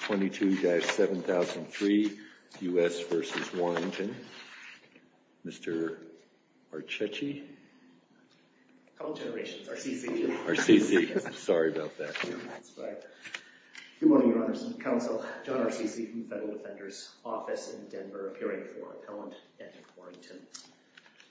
22-7003 U.S. v. Warrington. Mr. Arceci? A couple generations. Arceci. Arceci. Sorry about that. That's fine. Good morning, Your Honors and Counsel. John Arceci from the Federal Defender's Office in Denver, appearing for Appellant at Warrington.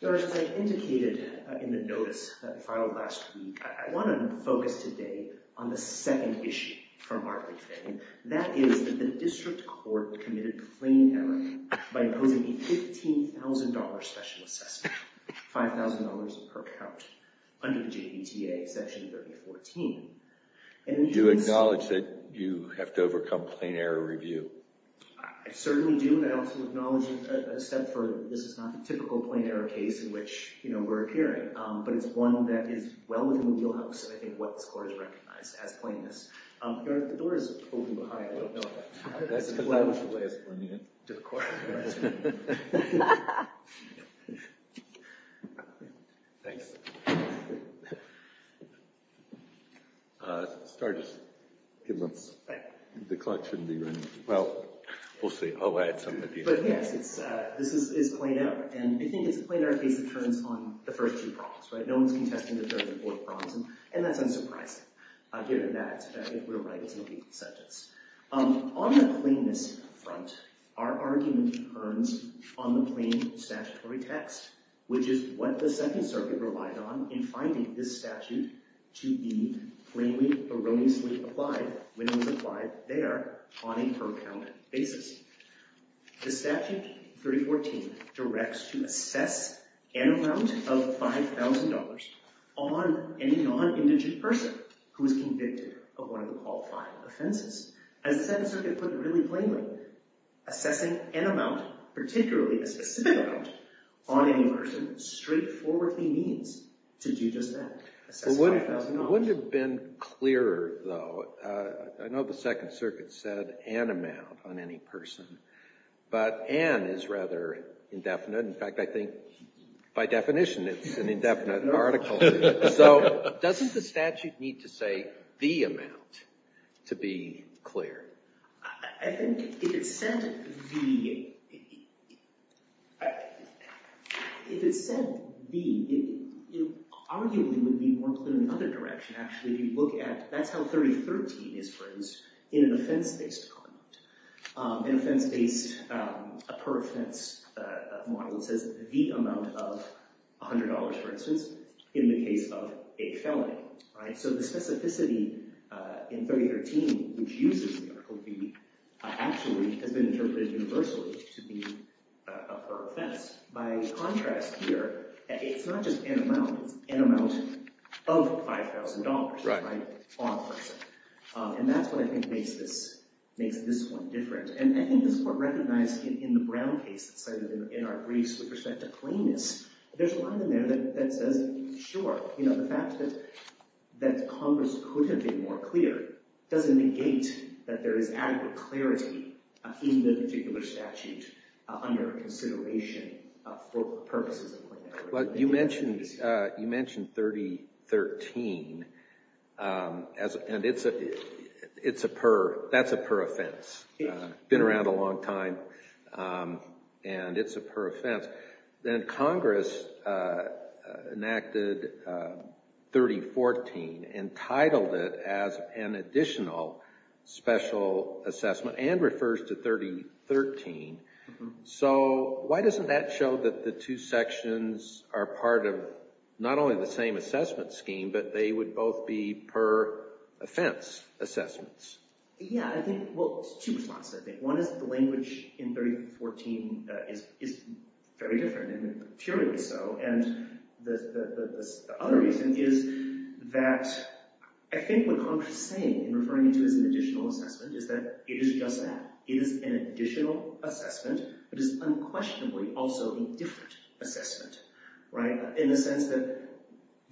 Your Honor, as I indicated in the notice that we filed last week, I want to focus today on the second issue from our briefing. And that is that the District Court committed plain error by imposing a $15,000 special assessment, $5,000 per count, under the JVTA Section 3014. Do you acknowledge that you have to overcome plain error review? I certainly do, but I also acknowledge a step further. This is not the typical plain error case in which we're appearing. But it's one that is well within the wheelhouse of what this Court has recognized as plainness. Your Honor, the door is open behind you. That's because I was the last one in to the Court. Thanks. Start us. The clock shouldn't be running. Well, we'll see. I'll add something. But yes, this is plain error, and I think it's a plain error case that turns on the first two prongs. No one's contesting the third and fourth prongs, and that's unsurprising. Given that, we're right. It's an equal sentence. On the plainness front, our argument concerns on the plain statutory text, which is what the Second Circuit relied on in finding this statute to be plainly erroneously applied when it was applied there on a per-count basis. The Statute 3014 directs to assess an amount of $5,000 on any non-indigent person who is convicted of one of the qualifying offenses. As the Second Circuit put it really plainly, assessing an amount, particularly a specific amount, on any person straightforwardly means to do just that. It wouldn't have been clearer, though. I know the Second Circuit said an amount on any person, but an is rather indefinite. In fact, I think by definition it's an indefinite article. So doesn't the statute need to say the amount to be clear? I think if it said the, if it said the, it arguably would be more clear in another direction, actually. If you look at, that's how 3013 is phrased in an offense-based argument. In offense-based, a per-offense model, it says the amount of $100, for instance, in the case of a felony. So the specificity in 3013, which uses the article B, actually has been interpreted universally to be a per-offense. By contrast here, it's not just an amount. It's an amount of $5,000 on a person. And that's what I think makes this one different. And I think this is what recognized in the Brown case that cited in our briefs with respect to cleanness. There's a line in there that says, sure, the fact that Congress couldn't be more clear doesn't negate that there is adequate clarity in the particular statute under consideration for purposes of cleanliness. You mentioned 3013, and it's a per, that's a per-offense. Been around a long time, and it's a per-offense. Then Congress enacted 3014 and titled it as an additional special assessment and refers to 3013. So why doesn't that show that the two sections are part of not only the same assessment scheme, but they would both be per-offense assessments? Yeah, I think, well, two responses, I think. One is the language in 3014 is very different, and purely so. And the other reason is that I think what Congress is saying in referring to it as an additional assessment is that it is just that. It is an additional assessment, but it is unquestionably also a different assessment, right, in the sense that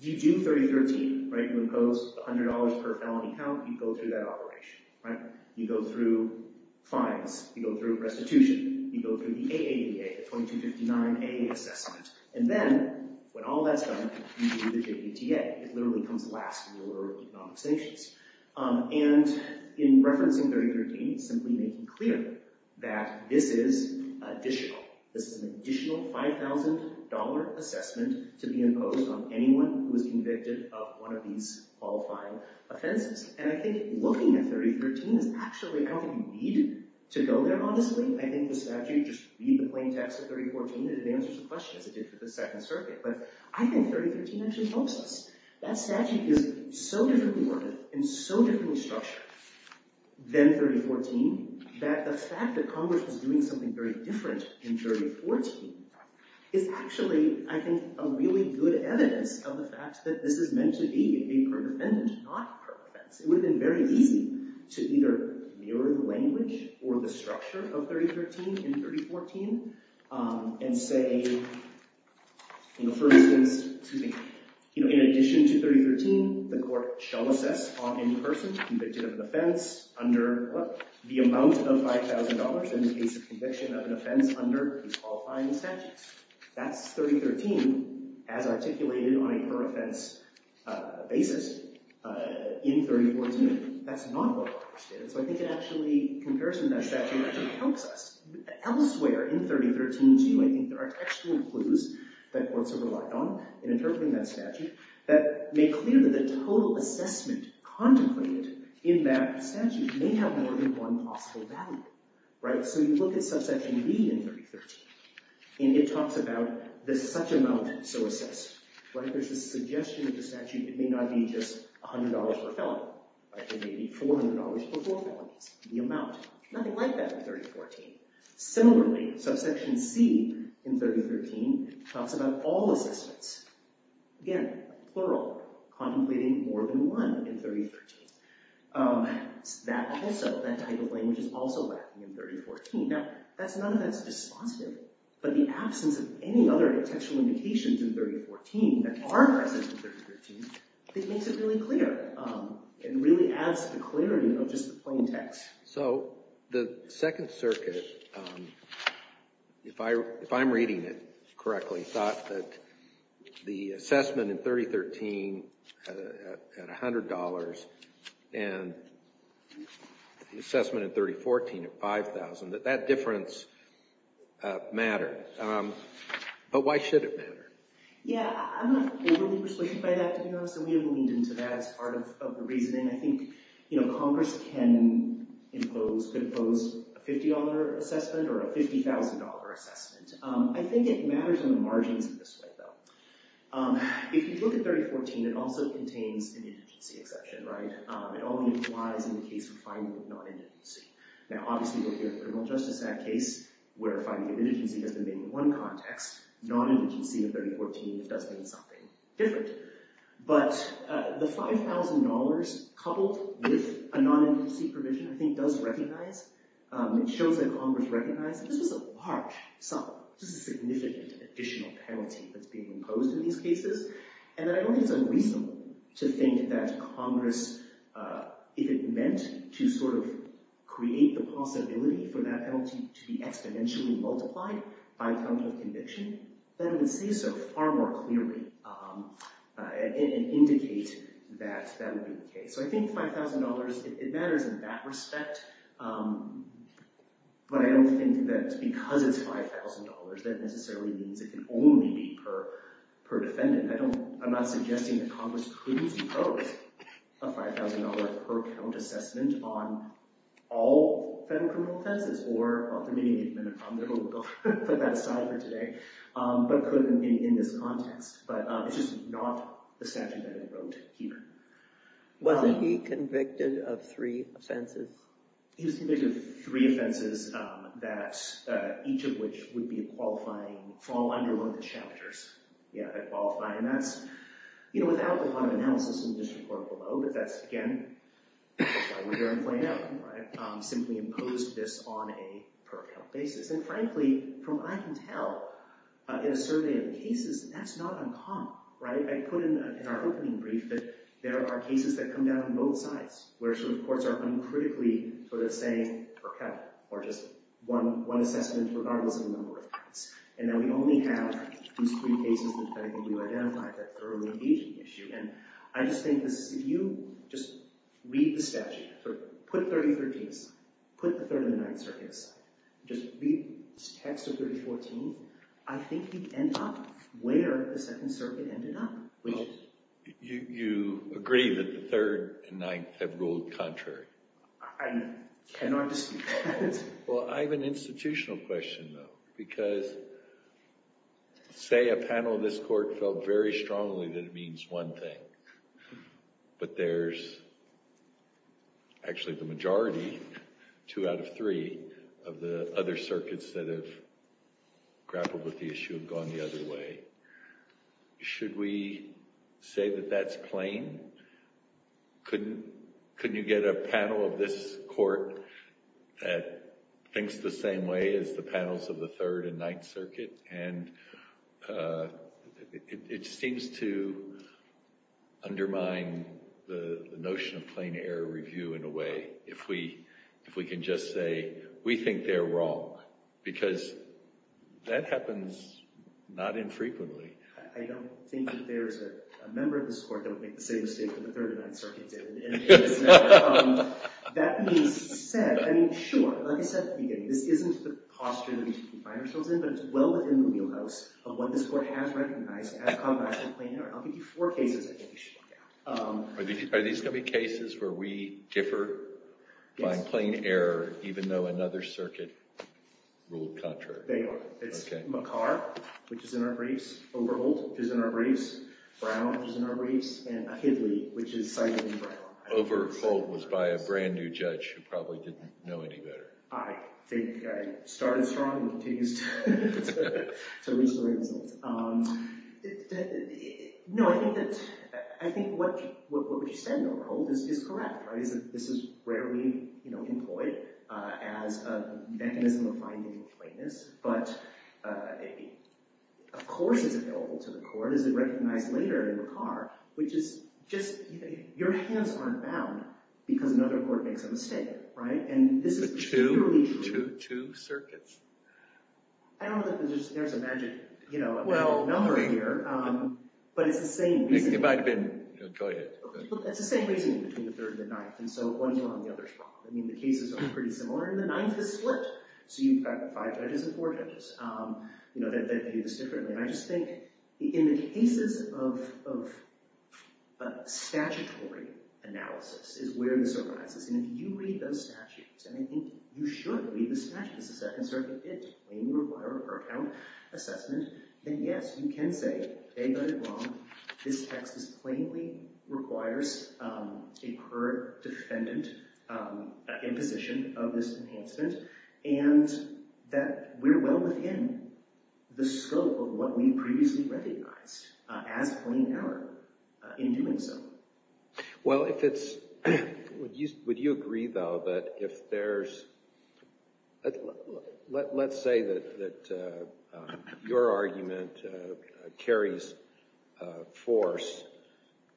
you do 3013, right? You impose $100 per felony count, you go through that operation, right? You go through fines, you go through restitution, you go through the AADA, the 2259A assessment, and then when all that's done, you do the JDTA. It literally comes last in the order of economic sanctions. And in referencing 3013, it's simply making clear that this is additional. This is an additional $5,000 assessment to be imposed on anyone who is convicted of one of these qualifying offenses. And I think looking at 3013 is actually, I don't think you need to go there, honestly. I think the statute, just read the plain text of 3014, and it answers the questions it did for the Second Circuit. But I think 3013 actually helps us. That statute is so differently worded and so differently structured than 3014 that the fact that Congress is doing something very different in 3014 is actually, I think, a really good evidence of the fact that this is meant to be a per defendant, not a per offense. It would have been very easy to either mirror the language or the structure of 3013 in 3014 and say, for instance, in addition to 3013, the court shall assess in person convicted of an offense under the amount of $5,000 in the case of conviction of an offense under the qualifying statutes. That's 3013 as articulated on a per offense basis in 3014. That's not what Congress did. So I think it actually, in comparison to that statute, actually helps us. Elsewhere in 3013, too, I think there are textual clues that courts have relied on in interpreting that statute that make clear that the total assessment contemplated in that statute may have more than one possible value. So you look at subsection B in 3013, and it talks about the such amount so assessed. If there's a suggestion of the statute, it may not be just $100 per felon. It may be $400 for four felons, the amount. Nothing like that in 3014. Similarly, subsection C in 3013 talks about all assessments. Again, plural, contemplating more than one in 3013. That type of language is also lacking in 3014. Now, none of that's dispositive. But the absence of any other textual indications in 3014 that are present in 3013 makes it really clear and really adds to the clarity of just the plain text. So the Second Circuit, if I'm reading it correctly, thought that the assessment in 3013 at $100 and the assessment in 3014 at $5,000, that that difference mattered. But why should it matter? Yeah, I'm not overly persuaded by that, to be honest. And we leaned into that as part of the reasoning. And I think Congress can impose a $50 assessment or a $50,000 assessment. I think it matters on the margins in this way, though. If you look at 3014, it also contains an indigency exception, right? It only applies in the case of finding of non-indigency. Now, obviously, we're here at the Criminal Justice Act case where finding of indigency has been made in one context. Non-indigency in 3014 does mean something different. But the $5,000 coupled with a non-indigency provision, I think, does recognize. It shows that Congress recognized that this was a large sum. This is a significant additional penalty that's being imposed in these cases. And I don't think it's unreasonable to think that Congress, if it meant to sort of create the possibility for that penalty to be exponentially multiplied by a count of conviction, then would see so far more clearly and indicate that that would be the case. So I think $5,000, it matters in that respect. But I don't think that because it's $5,000, that necessarily means it can only be per defendant. I'm not suggesting that Congress couldn't impose a $5,000 per count assessment on all federal criminal defenses or permitting them to put that aside for today, but couldn't in this context. But it's just not the statute that I wrote here. Was he convicted of three offenses? He was convicted of three offenses, each of which would fall under one of the chapters. Yeah, I qualify. And that's without a lot of analysis in the district court below. But that's, again, why we're here in Plano. Simply imposed this on a per count basis. And frankly, from what I can tell, in a survey of cases, that's not uncommon. I put in our opening brief that there are cases that come down on both sides, where some courts are uncritically sort of saying per count, or just one assessment regardless of the number of counts. And that we only have these three cases that I think do identify that early engagement issue. And I just think this is, if you just read the statute, put 3013s, put the Third and the Ninth Circuits, just read this text of 3014, I think you'd end up where the Second Circuit ended up. You agree that the Third and Ninth have ruled contrary? I cannot dispute that. Well, I have an institutional question, though. Because say a panel of this court felt very strongly that it means one thing. But there's actually the majority, two out of three, of the other circuits that have grappled with the issue have gone the other way. Should we say that that's plain? Couldn't you get a panel of this court that thinks the same way as the panels of the Third and Ninth Circuit? And it seems to undermine the notion of plain error review in a way. If we can just say, we think they're wrong. Because that happens not infrequently. I don't think that there's a member of this court that would make the same mistake that the Third and Ninth Circuit did. That being said, I mean, sure, like I said at the beginning, this isn't the posture that we should confine ourselves in. But it's well within the wheelhouse of what this court has recognized as combating plain error. I'll give you four cases I think you should look at. Are these going to be cases where we differ by plain error, even though another circuit ruled contrary? They are. It's McCarr, which is in our briefs. Overholt, which is in our briefs. Brown, which is in our briefs. And Hidley, which is cited in Brown. Overholt was by a brand new judge who probably didn't know any better. I think I started strong and will continue to reach the right results. No, I think what you said in Overholt is correct. This is rarely employed as a mechanism of finding plainness. But of course it's available to the court. It's recognized later in McCarr, which is just your hands aren't bound because another court makes a mistake. But two circuits? I don't know if there's a magic number here, but it's the same reason. It might have been enjoyed. It's the same reason between the third and the ninth. And so one's wrong, the other's wrong. I mean, the cases are pretty similar. And the ninth is split. So you've got five judges and four judges. They view this differently. And I just think in the cases of statutory analysis is where this arises. And if you read those statutes, and I think you should read the statutes of Second Circuit, when you require a per count assessment, then yes, you can say they got it wrong. This text plainly requires a current defendant in position of this enhancement. And that we're well within the scope of what we previously recognized as plain error in doing so. Well, if it's – would you agree, though, that if there's – let's say that your argument carries force,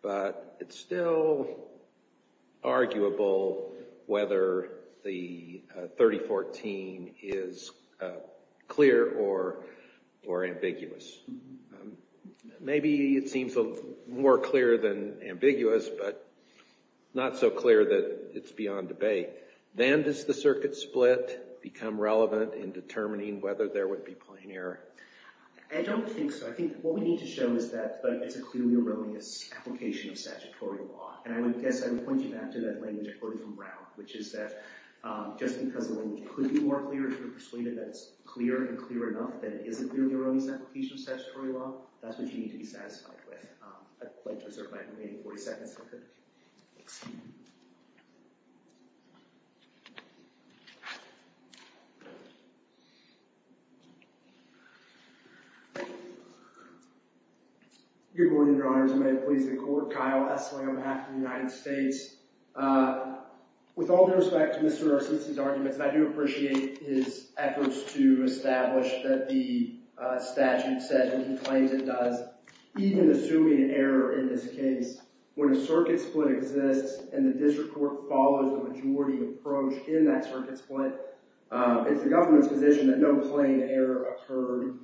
but it's still arguable whether the 3014 is clear or ambiguous. Maybe it seems more clear than ambiguous, but not so clear that it's beyond debate. Then does the circuit split become relevant in determining whether there would be plain error? I don't think so. I think what we need to show is that it's a clearly erroneous application of statutory law. And I would guess I would point you back to that language I quoted from Brown, which is that just because the language could be more clear, if you're persuaded that it's clear and clear enough, then it is a clearly erroneous application of statutory law. That's what you need to be satisfied with. I'd like to reserve my remaining 40 seconds. Good morning, Your Honors. I'm going to please the Court. Kyle Essling on behalf of the United States. With all due respect to Mr. Narcisi's arguments, I do appreciate his efforts to establish that the statute says and he claims it does. Even assuming an error in this case, when a circuit split exists and the district court follows a majority approach in that circuit split, it's the government's position that no plain error occurred.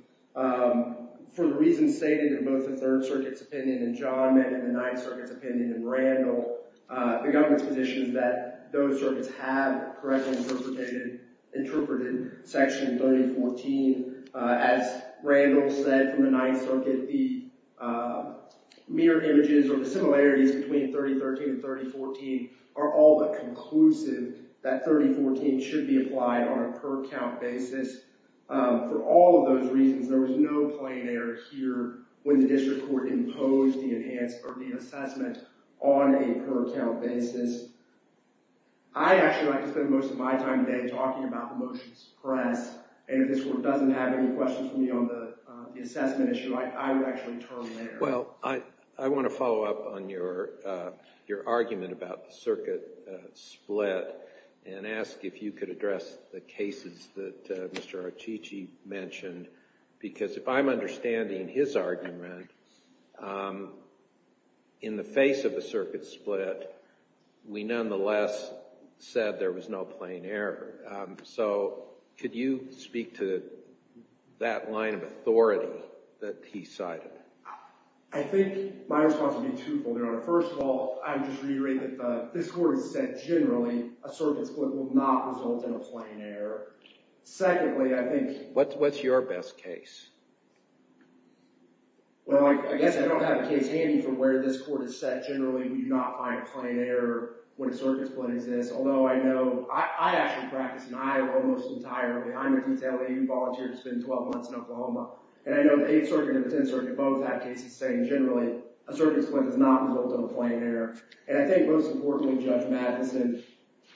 For the reasons stated in both the Third Circuit's opinion and John Mennon and the Ninth Circuit's opinion and Randall, the government's position is that those circuits have correctly interpreted Section 3014. As Randall said from the Ninth Circuit, the mirrored images or the similarities between 3013 and 3014 are all but conclusive that 3014 should be applied on a per count basis. For all of those reasons, there was no plain error here when the district court imposed the assessment on a per count basis. I'd actually like to spend most of my time today talking about the motions pressed and if this Court doesn't have any questions for me on the assessment issue, I would actually turn there. Well, I want to follow up on your argument about the circuit split and ask if you could address the cases that Mr. Narcisi mentioned because if I'm understanding his argument, in the face of a circuit split, we nonetheless said there was no plain error. So could you speak to that line of authority that he cited? I think my response would be twofold, Your Honor. First of all, I would just reiterate that this Court has said generally a circuit split will not result in a plain error. Secondly, I think— What's your best case? Well, I guess I don't have a case handy for where this Court has said generally we do not find a plain error when a circuit split exists, although I know—I actually practice in Iowa almost entirely. I'm a detailee who volunteered to spend 12 months in Oklahoma, and I know the Eighth Circuit and the Tenth Circuit both have cases saying generally a circuit split does not result in a plain error. And I think most importantly, Judge Madison,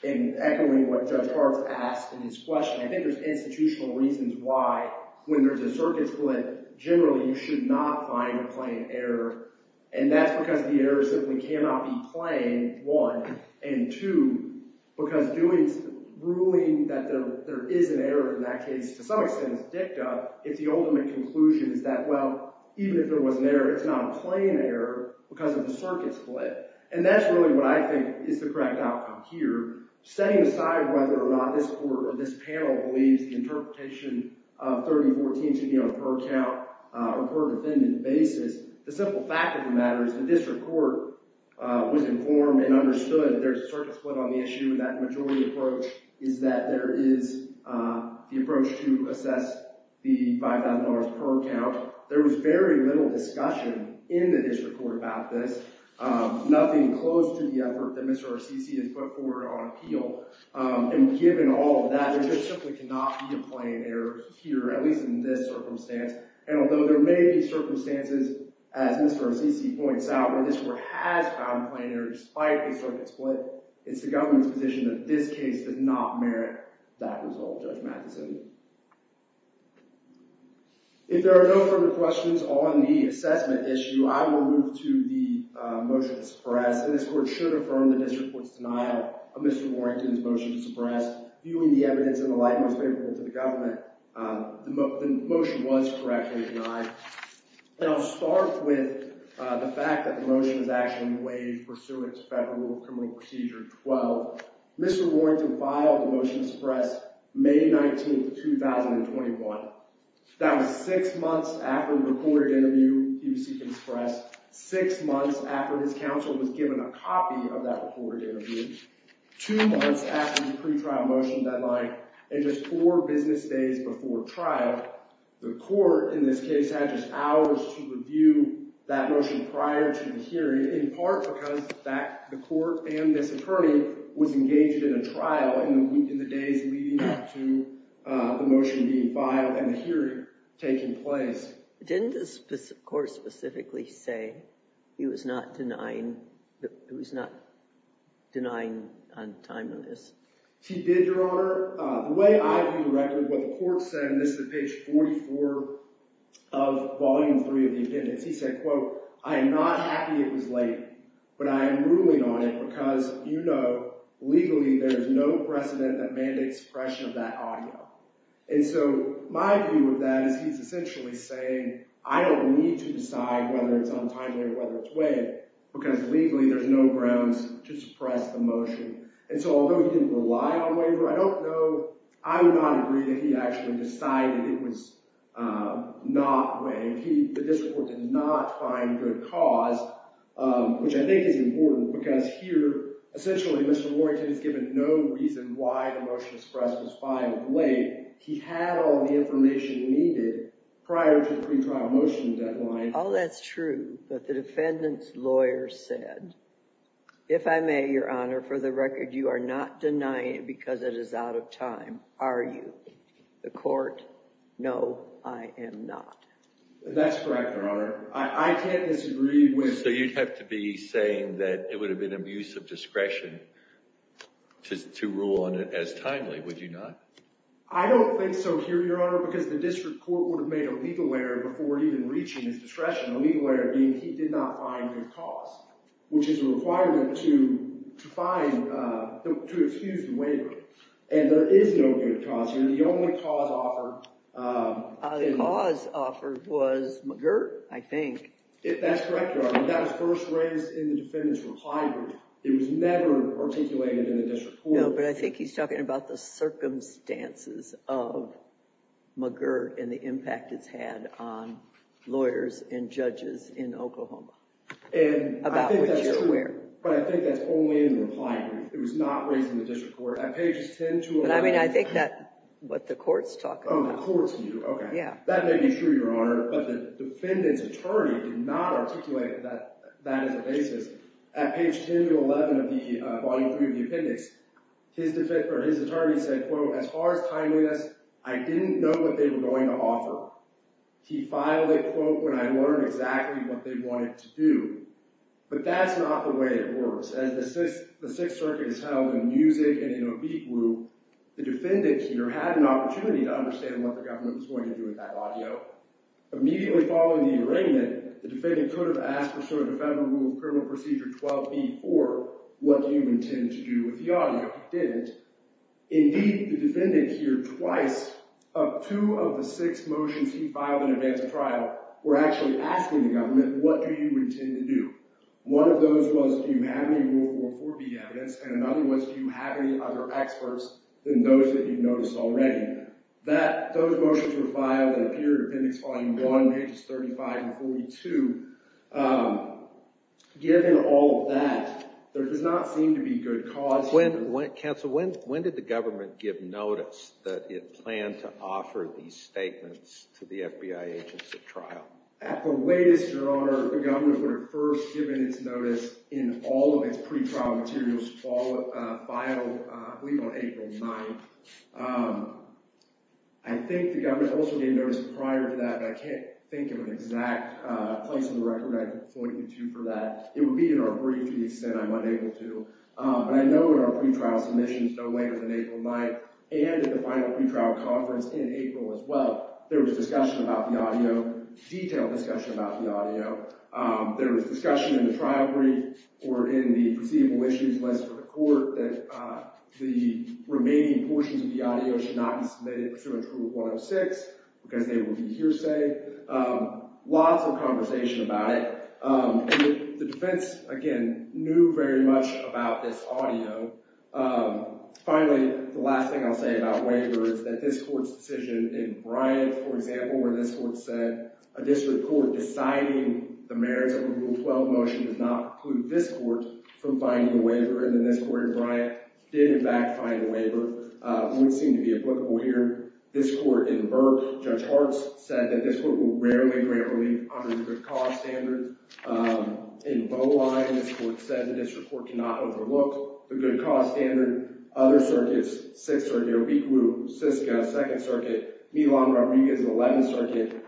in echoing what Judge Hartz asked in his question, I think there's institutional reasons why when there's a circuit split, generally you should not find a plain error, and that's because the error simply cannot be plain, one. And two, because doing—ruling that there is an error in that case, to some extent is dicta, if the ultimate conclusion is that, well, even if there was an error, it's not a plain error because of the circuit split. And that's really what I think is the correct outcome here. Setting aside whether or not this Court or this panel believes the interpretation of 3014 should be on a per count or per defendant basis, the simple fact of the matter is the district court was informed and understood there's a circuit split on the issue. That majority approach is that there is the approach to assess the $5,000 per count. There was very little discussion in the district court about this, nothing close to the effort that Mr. Arsici has put forward on appeal. And given all of that, there just simply cannot be a plain error here, at least in this circumstance. And although there may be circumstances, as Mr. Arsici points out, where this Court has found plain error despite the circuit split, it's the government's position that this case did not merit that result, Judge Mathison. If there are no further questions on the assessment issue, I will move to the motion to suppress. And this Court should affirm the district court's denial of Mr. Warrington's motion to suppress. Viewing the evidence in the light most favorable to the government, the motion was correctly denied. And I'll start with the fact that the motion was actually waived pursuant to Federal Criminal Procedure 12. Mr. Warrington filed the motion to suppress May 19th, 2021. That was six months after the recorded interview he was seeking to suppress, six months after his counsel was given a copy of that recorded interview, two months after the pretrial motion deadline, and just four business days before trial. The Court, in this case, had just hours to review that motion prior to the hearing, in part because the Court and this attorney was engaged in a trial in the days leading up to the motion being filed and the hearing taking place. Didn't the Court specifically say he was not denying on time on this? He did, Your Honor. The way I view the record, what the Court said, and this is at page 44 of Volume 3 of the appendix, he said, quote, I am not happy it was late, but I am ruling on it because, you know, legally there is no precedent that mandates suppression of that audio. And so my view of that is he's essentially saying I don't need to decide whether it's on time or whether it's waived because legally there's no grounds to suppress the motion. And so although he didn't rely on waiver, I don't know, I would not agree that he actually decided it was not waived, that this Court did not find good cause, which I think is important because here, essentially, Mr. Warrington is given no reason why the motion to suppress was filed late. He had all the information needed prior to the pretrial motion deadline. All that's true, but the defendant's lawyer said, if I may, Your Honor, for the record, you are not denying it because it is out of time, are you? The Court, no, I am not. That's correct, Your Honor. I can't disagree with— So you'd have to be saying that it would have been abuse of discretion to rule on it as timely, would you not? I don't think so here, Your Honor, because the district court would have made a legal error before even reaching his discretion, a legal error being he did not find good cause, which is a requirement to find—to excuse the waiver. And there is no good cause here. The only cause offered— The cause offered was McGirt, I think. That's correct, Your Honor. That was first raised in the defendant's reply group. It was never articulated in the district court. No, but I think he's talking about the circumstances of McGirt and the impact it's had on lawyers and judges in Oklahoma, about which you're aware. But I think that's only in the reply group. It was not raised in the district court. At pages 10 to 11— But I mean, I think that's what the Court's talking about. Oh, the Court's view, okay. That may be true, Your Honor, but the defendant's attorney did not articulate that as a basis. At page 10 to 11 of the—volume 3 of the appendix, his attorney said, quote, As far as timeliness, I didn't know what they were going to offer. He filed it, quote, when I learned exactly what they wanted to do. But that's not the way it works. As the Sixth Circuit is held in music and in a beat group, the defendant either had an opportunity to understand what the government was going to do with that audio. Immediately following the arraignment, the defendant could have asked for sort of a Federal Rule of Criminal Procedure 12b.4, what do you intend to do with the audio? He didn't. Indeed, the defendant here twice, of two of the six motions he filed in advance of trial, were actually asking the government, what do you intend to do? One of those was, do you have any Rule 4.4b evidence? And another was, do you have any other experts than those that you've noticed already? And those motions were filed in the period of Appendix Volume 1, pages 35 and 42. Given all of that, there does not seem to be good cause— Counsel, when did the government give notice that it planned to offer these statements to the FBI agents at trial? At the latest, Your Honor, the government would have first given its notice in all of its pre-trial materials filed, I believe, on April 9th. I think the government also gave notice prior to that, but I can't think of an exact place on the record I can point you to for that. It would be in our brief, to the extent I'm unable to. But I know in our pre-trial submissions, no later than April 9th, and in the final pre-trial conference in April as well, there was discussion about the audio, detailed discussion about the audio. There was discussion in the trial brief or in the proceedable issues list for the court that the remaining portions of the audio should not be submitted to a Proof 106 because they would be hearsay. Lots of conversation about it. The defense, again, knew very much about this audio. Finally, the last thing I'll say about waiver is that this court's decision in Bryant, for example, where this court said a district court deciding the merits of a Rule 12 motion does not preclude this court from finding a waiver, and then this court in Bryant did, in fact, find a waiver. It would seem to be applicable here. This court in Burke, Judge Hartz, said that this court will rarely grant relief under the good cause standard. In Bowline, this court said the district court cannot overlook the good cause standard. Other circuits, Sixth Circuit, Obeekwu, Siska, Second Circuit, Milan, Rodriguez, and Eleventh Circuit,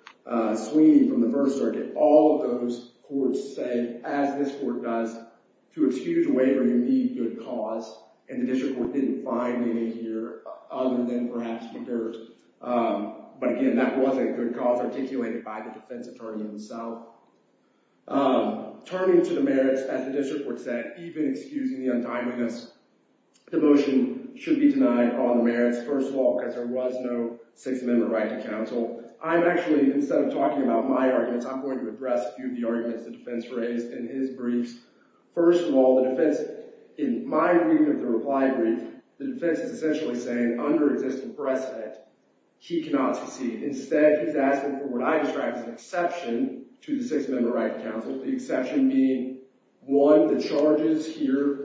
Sweeney from the First Circuit, all of those courts said, as this court does, to excuse a waiver you need good cause, and the district court didn't find any here other than perhaps in Burke. But again, that wasn't a good cause articulated by the defense attorney himself. Turning to the merits, as the district court said, even excusing the untimeliness, the motion should be denied all the merits, first of all, because there was no Sixth Amendment right to counsel. I'm actually, instead of talking about my arguments, I'm going to address a few of the arguments the defense raised in his briefs. First of all, the defense, in my reading of the reply brief, the defense is essentially saying, under existing precedent, he cannot secede. Instead, he's asking for what I describe as an exception to the Sixth Amendment right to counsel, the exception being, one, the charges here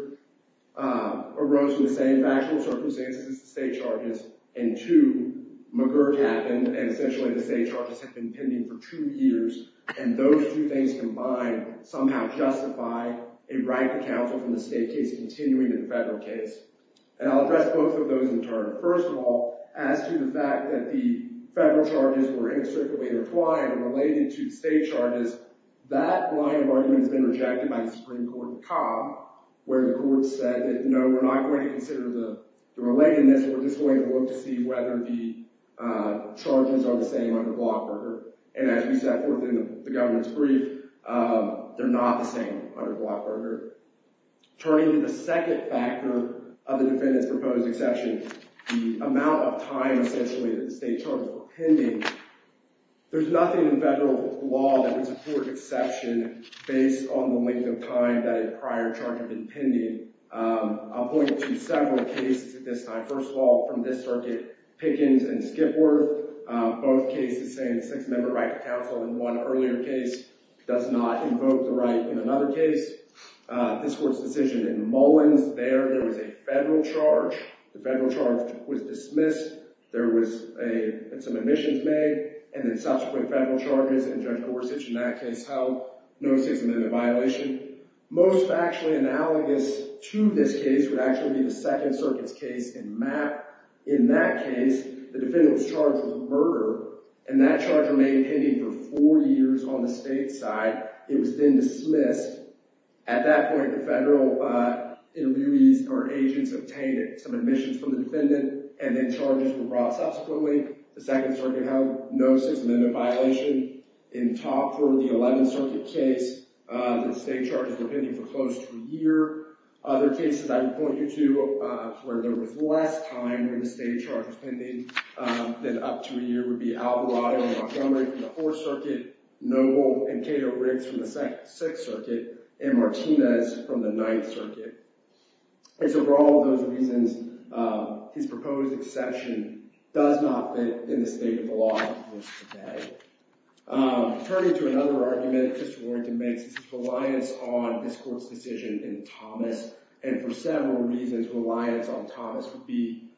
arose in the same factual circumstances as the state charges, and two, McGirt happened, and essentially the state charges have been pending for two years, and those two things combined somehow justify a right to counsel from the state case continuing in the federal case. And I'll address both of those in turn. First of all, as to the fact that the federal charges were in a certain way intertwined and related to the state charges, that line of argument has been rejected by the Supreme Court in Cobb, where the court said, no, we're not going to consider the relatedness, we're just going to look to see whether the charges are the same under Blockberger. And as we set forth in the governor's brief, they're not the same under Blockberger. Turning to the second factor of the defendant's proposed exception, the amount of time, essentially, that the state charges were pending, there's nothing in federal law that would support exception based on the length of time that a prior charge had been pending. I'll point to several cases at this time. First of all, from this circuit, Pickens and Skipworth, both cases saying the Sixth Amendment right to counsel in one earlier case does not invoke the right in another case. This court's decision in Mullins, there, there was a federal charge. The federal charge was dismissed. There was some admissions made, and then subsequent federal charges, and Judge Gorsuch in that case held no Sixth Amendment violation. Most factually analogous to this case would actually be the Second Circuit's case in Mapp. In that case, the defendant was charged with murder, and that charge remained pending for four years on the state side. It was then dismissed. At that point, the federal interviewees or agents obtained some admissions from the defendant, and then charges were brought subsequently. The Second Circuit held no Sixth Amendment violation. In Topford, the Eleventh Circuit case, the state charges were pending for close to a year. Other cases I would point you to where there was less time when the state charge was pending than up to a year would be Alvarado and Montgomery from the Fourth Circuit, Noble and Cato Riggs from the Sixth Circuit, and Martinez from the Ninth Circuit. And so for all of those reasons, his proposed exception does not fit in the state of the law as it is today. Turning to another argument that Mr. Warrington makes is his reliance on this court's decision in Thomas, and for several reasons, reliance on Thomas would be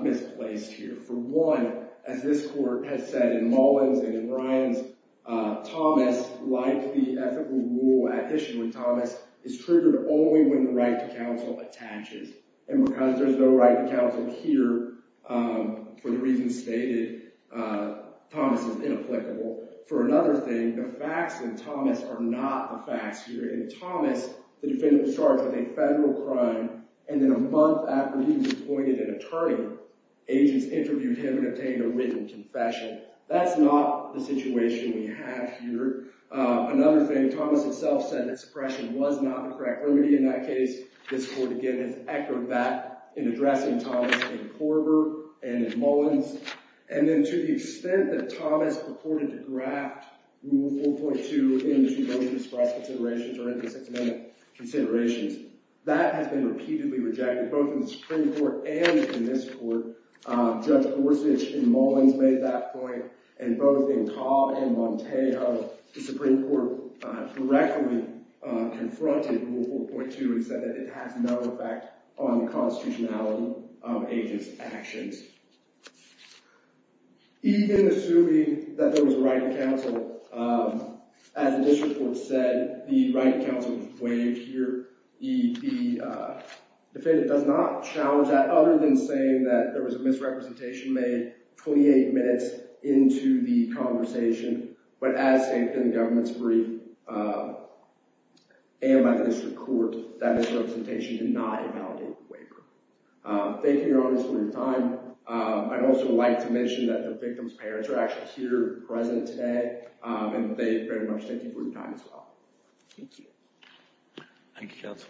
misplaced here. For one, as this court has said in Mullins and in Ryans, Thomas, like the ethical rule at issue with Thomas, is triggered only when the right to counsel attaches. And because there's no right to counsel here, for the reasons stated, Thomas is inapplicable. For another thing, the facts in Thomas are not the facts here. In Thomas, the defendant was charged with a federal crime, and then a month after he was appointed an attorney, agents interviewed him and obtained a written confession. That's not the situation we have here. Another thing, Thomas itself said that suppression was not the correct remedy in that case. This court, again, has echoed that in addressing Thomas in Korver and in Mullins. And then to the extent that Thomas purported to graft Rule 4.2 into those dispersed considerations or into the Sixth Amendment considerations, that has been repeatedly rejected both in the Supreme Court and in this court. Judge Gorsuch in Mullins made that point, and both in Cobb and Montejo, the Supreme Court directly confronted Rule 4.2 and said that it has no effect on the constitutionality of agents' actions. Even assuming that there was a right to counsel, as the district court said, the right to counsel is waived here. The defendant does not challenge that, other than saying that there was a misrepresentation made 28 minutes into the conversation. But as stated in the government's brief, and by the district court, that misrepresentation did not invalidate the waiver. Thank you, Your Honor, for your time. I'd also like to mention that the victim's parents are actually here present today, and they very much thank you for your time as well. Thank you. Thank you, counsel.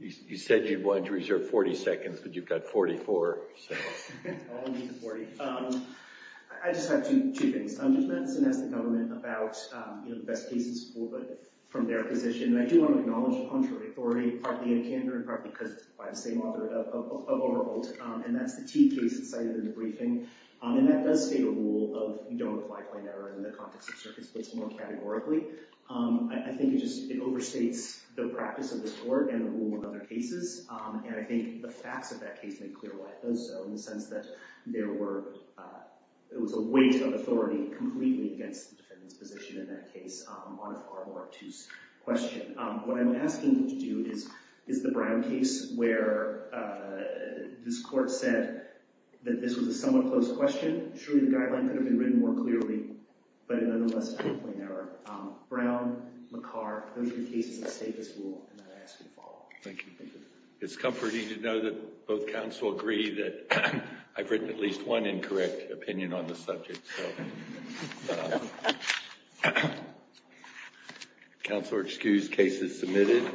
You said you wanted to reserve 40 seconds, but you've got 44. I don't need the 40. I just have two things. I'm just going to ask the government about the best cases from their position. And I do want to acknowledge the contrary authority, partly in candor and partly because it's by the same author of Oberholt. And that's the T case cited in the briefing. And that does state a rule of you don't apply plain error in the context of circuits, but it's more categorically. I think it just overstates the practice of this court and the rule of other cases. And I think the facts of that case make clear why it does so, in the sense that there was a weight of authority completely against the defendant's position in that case on a far more obtuse question. What I'm asking you to do is the Brown case, where this court said that this was a somewhat close question. Surely the guideline could have been written more clearly, but it nonetheless found plain error. Brown, McCarr, those are the cases that state this rule, and I ask you to follow. Thank you. It's comforting to know that both counsel agree that I've written at least one incorrect opinion on the subject. Counsel are excused. Case is submitted.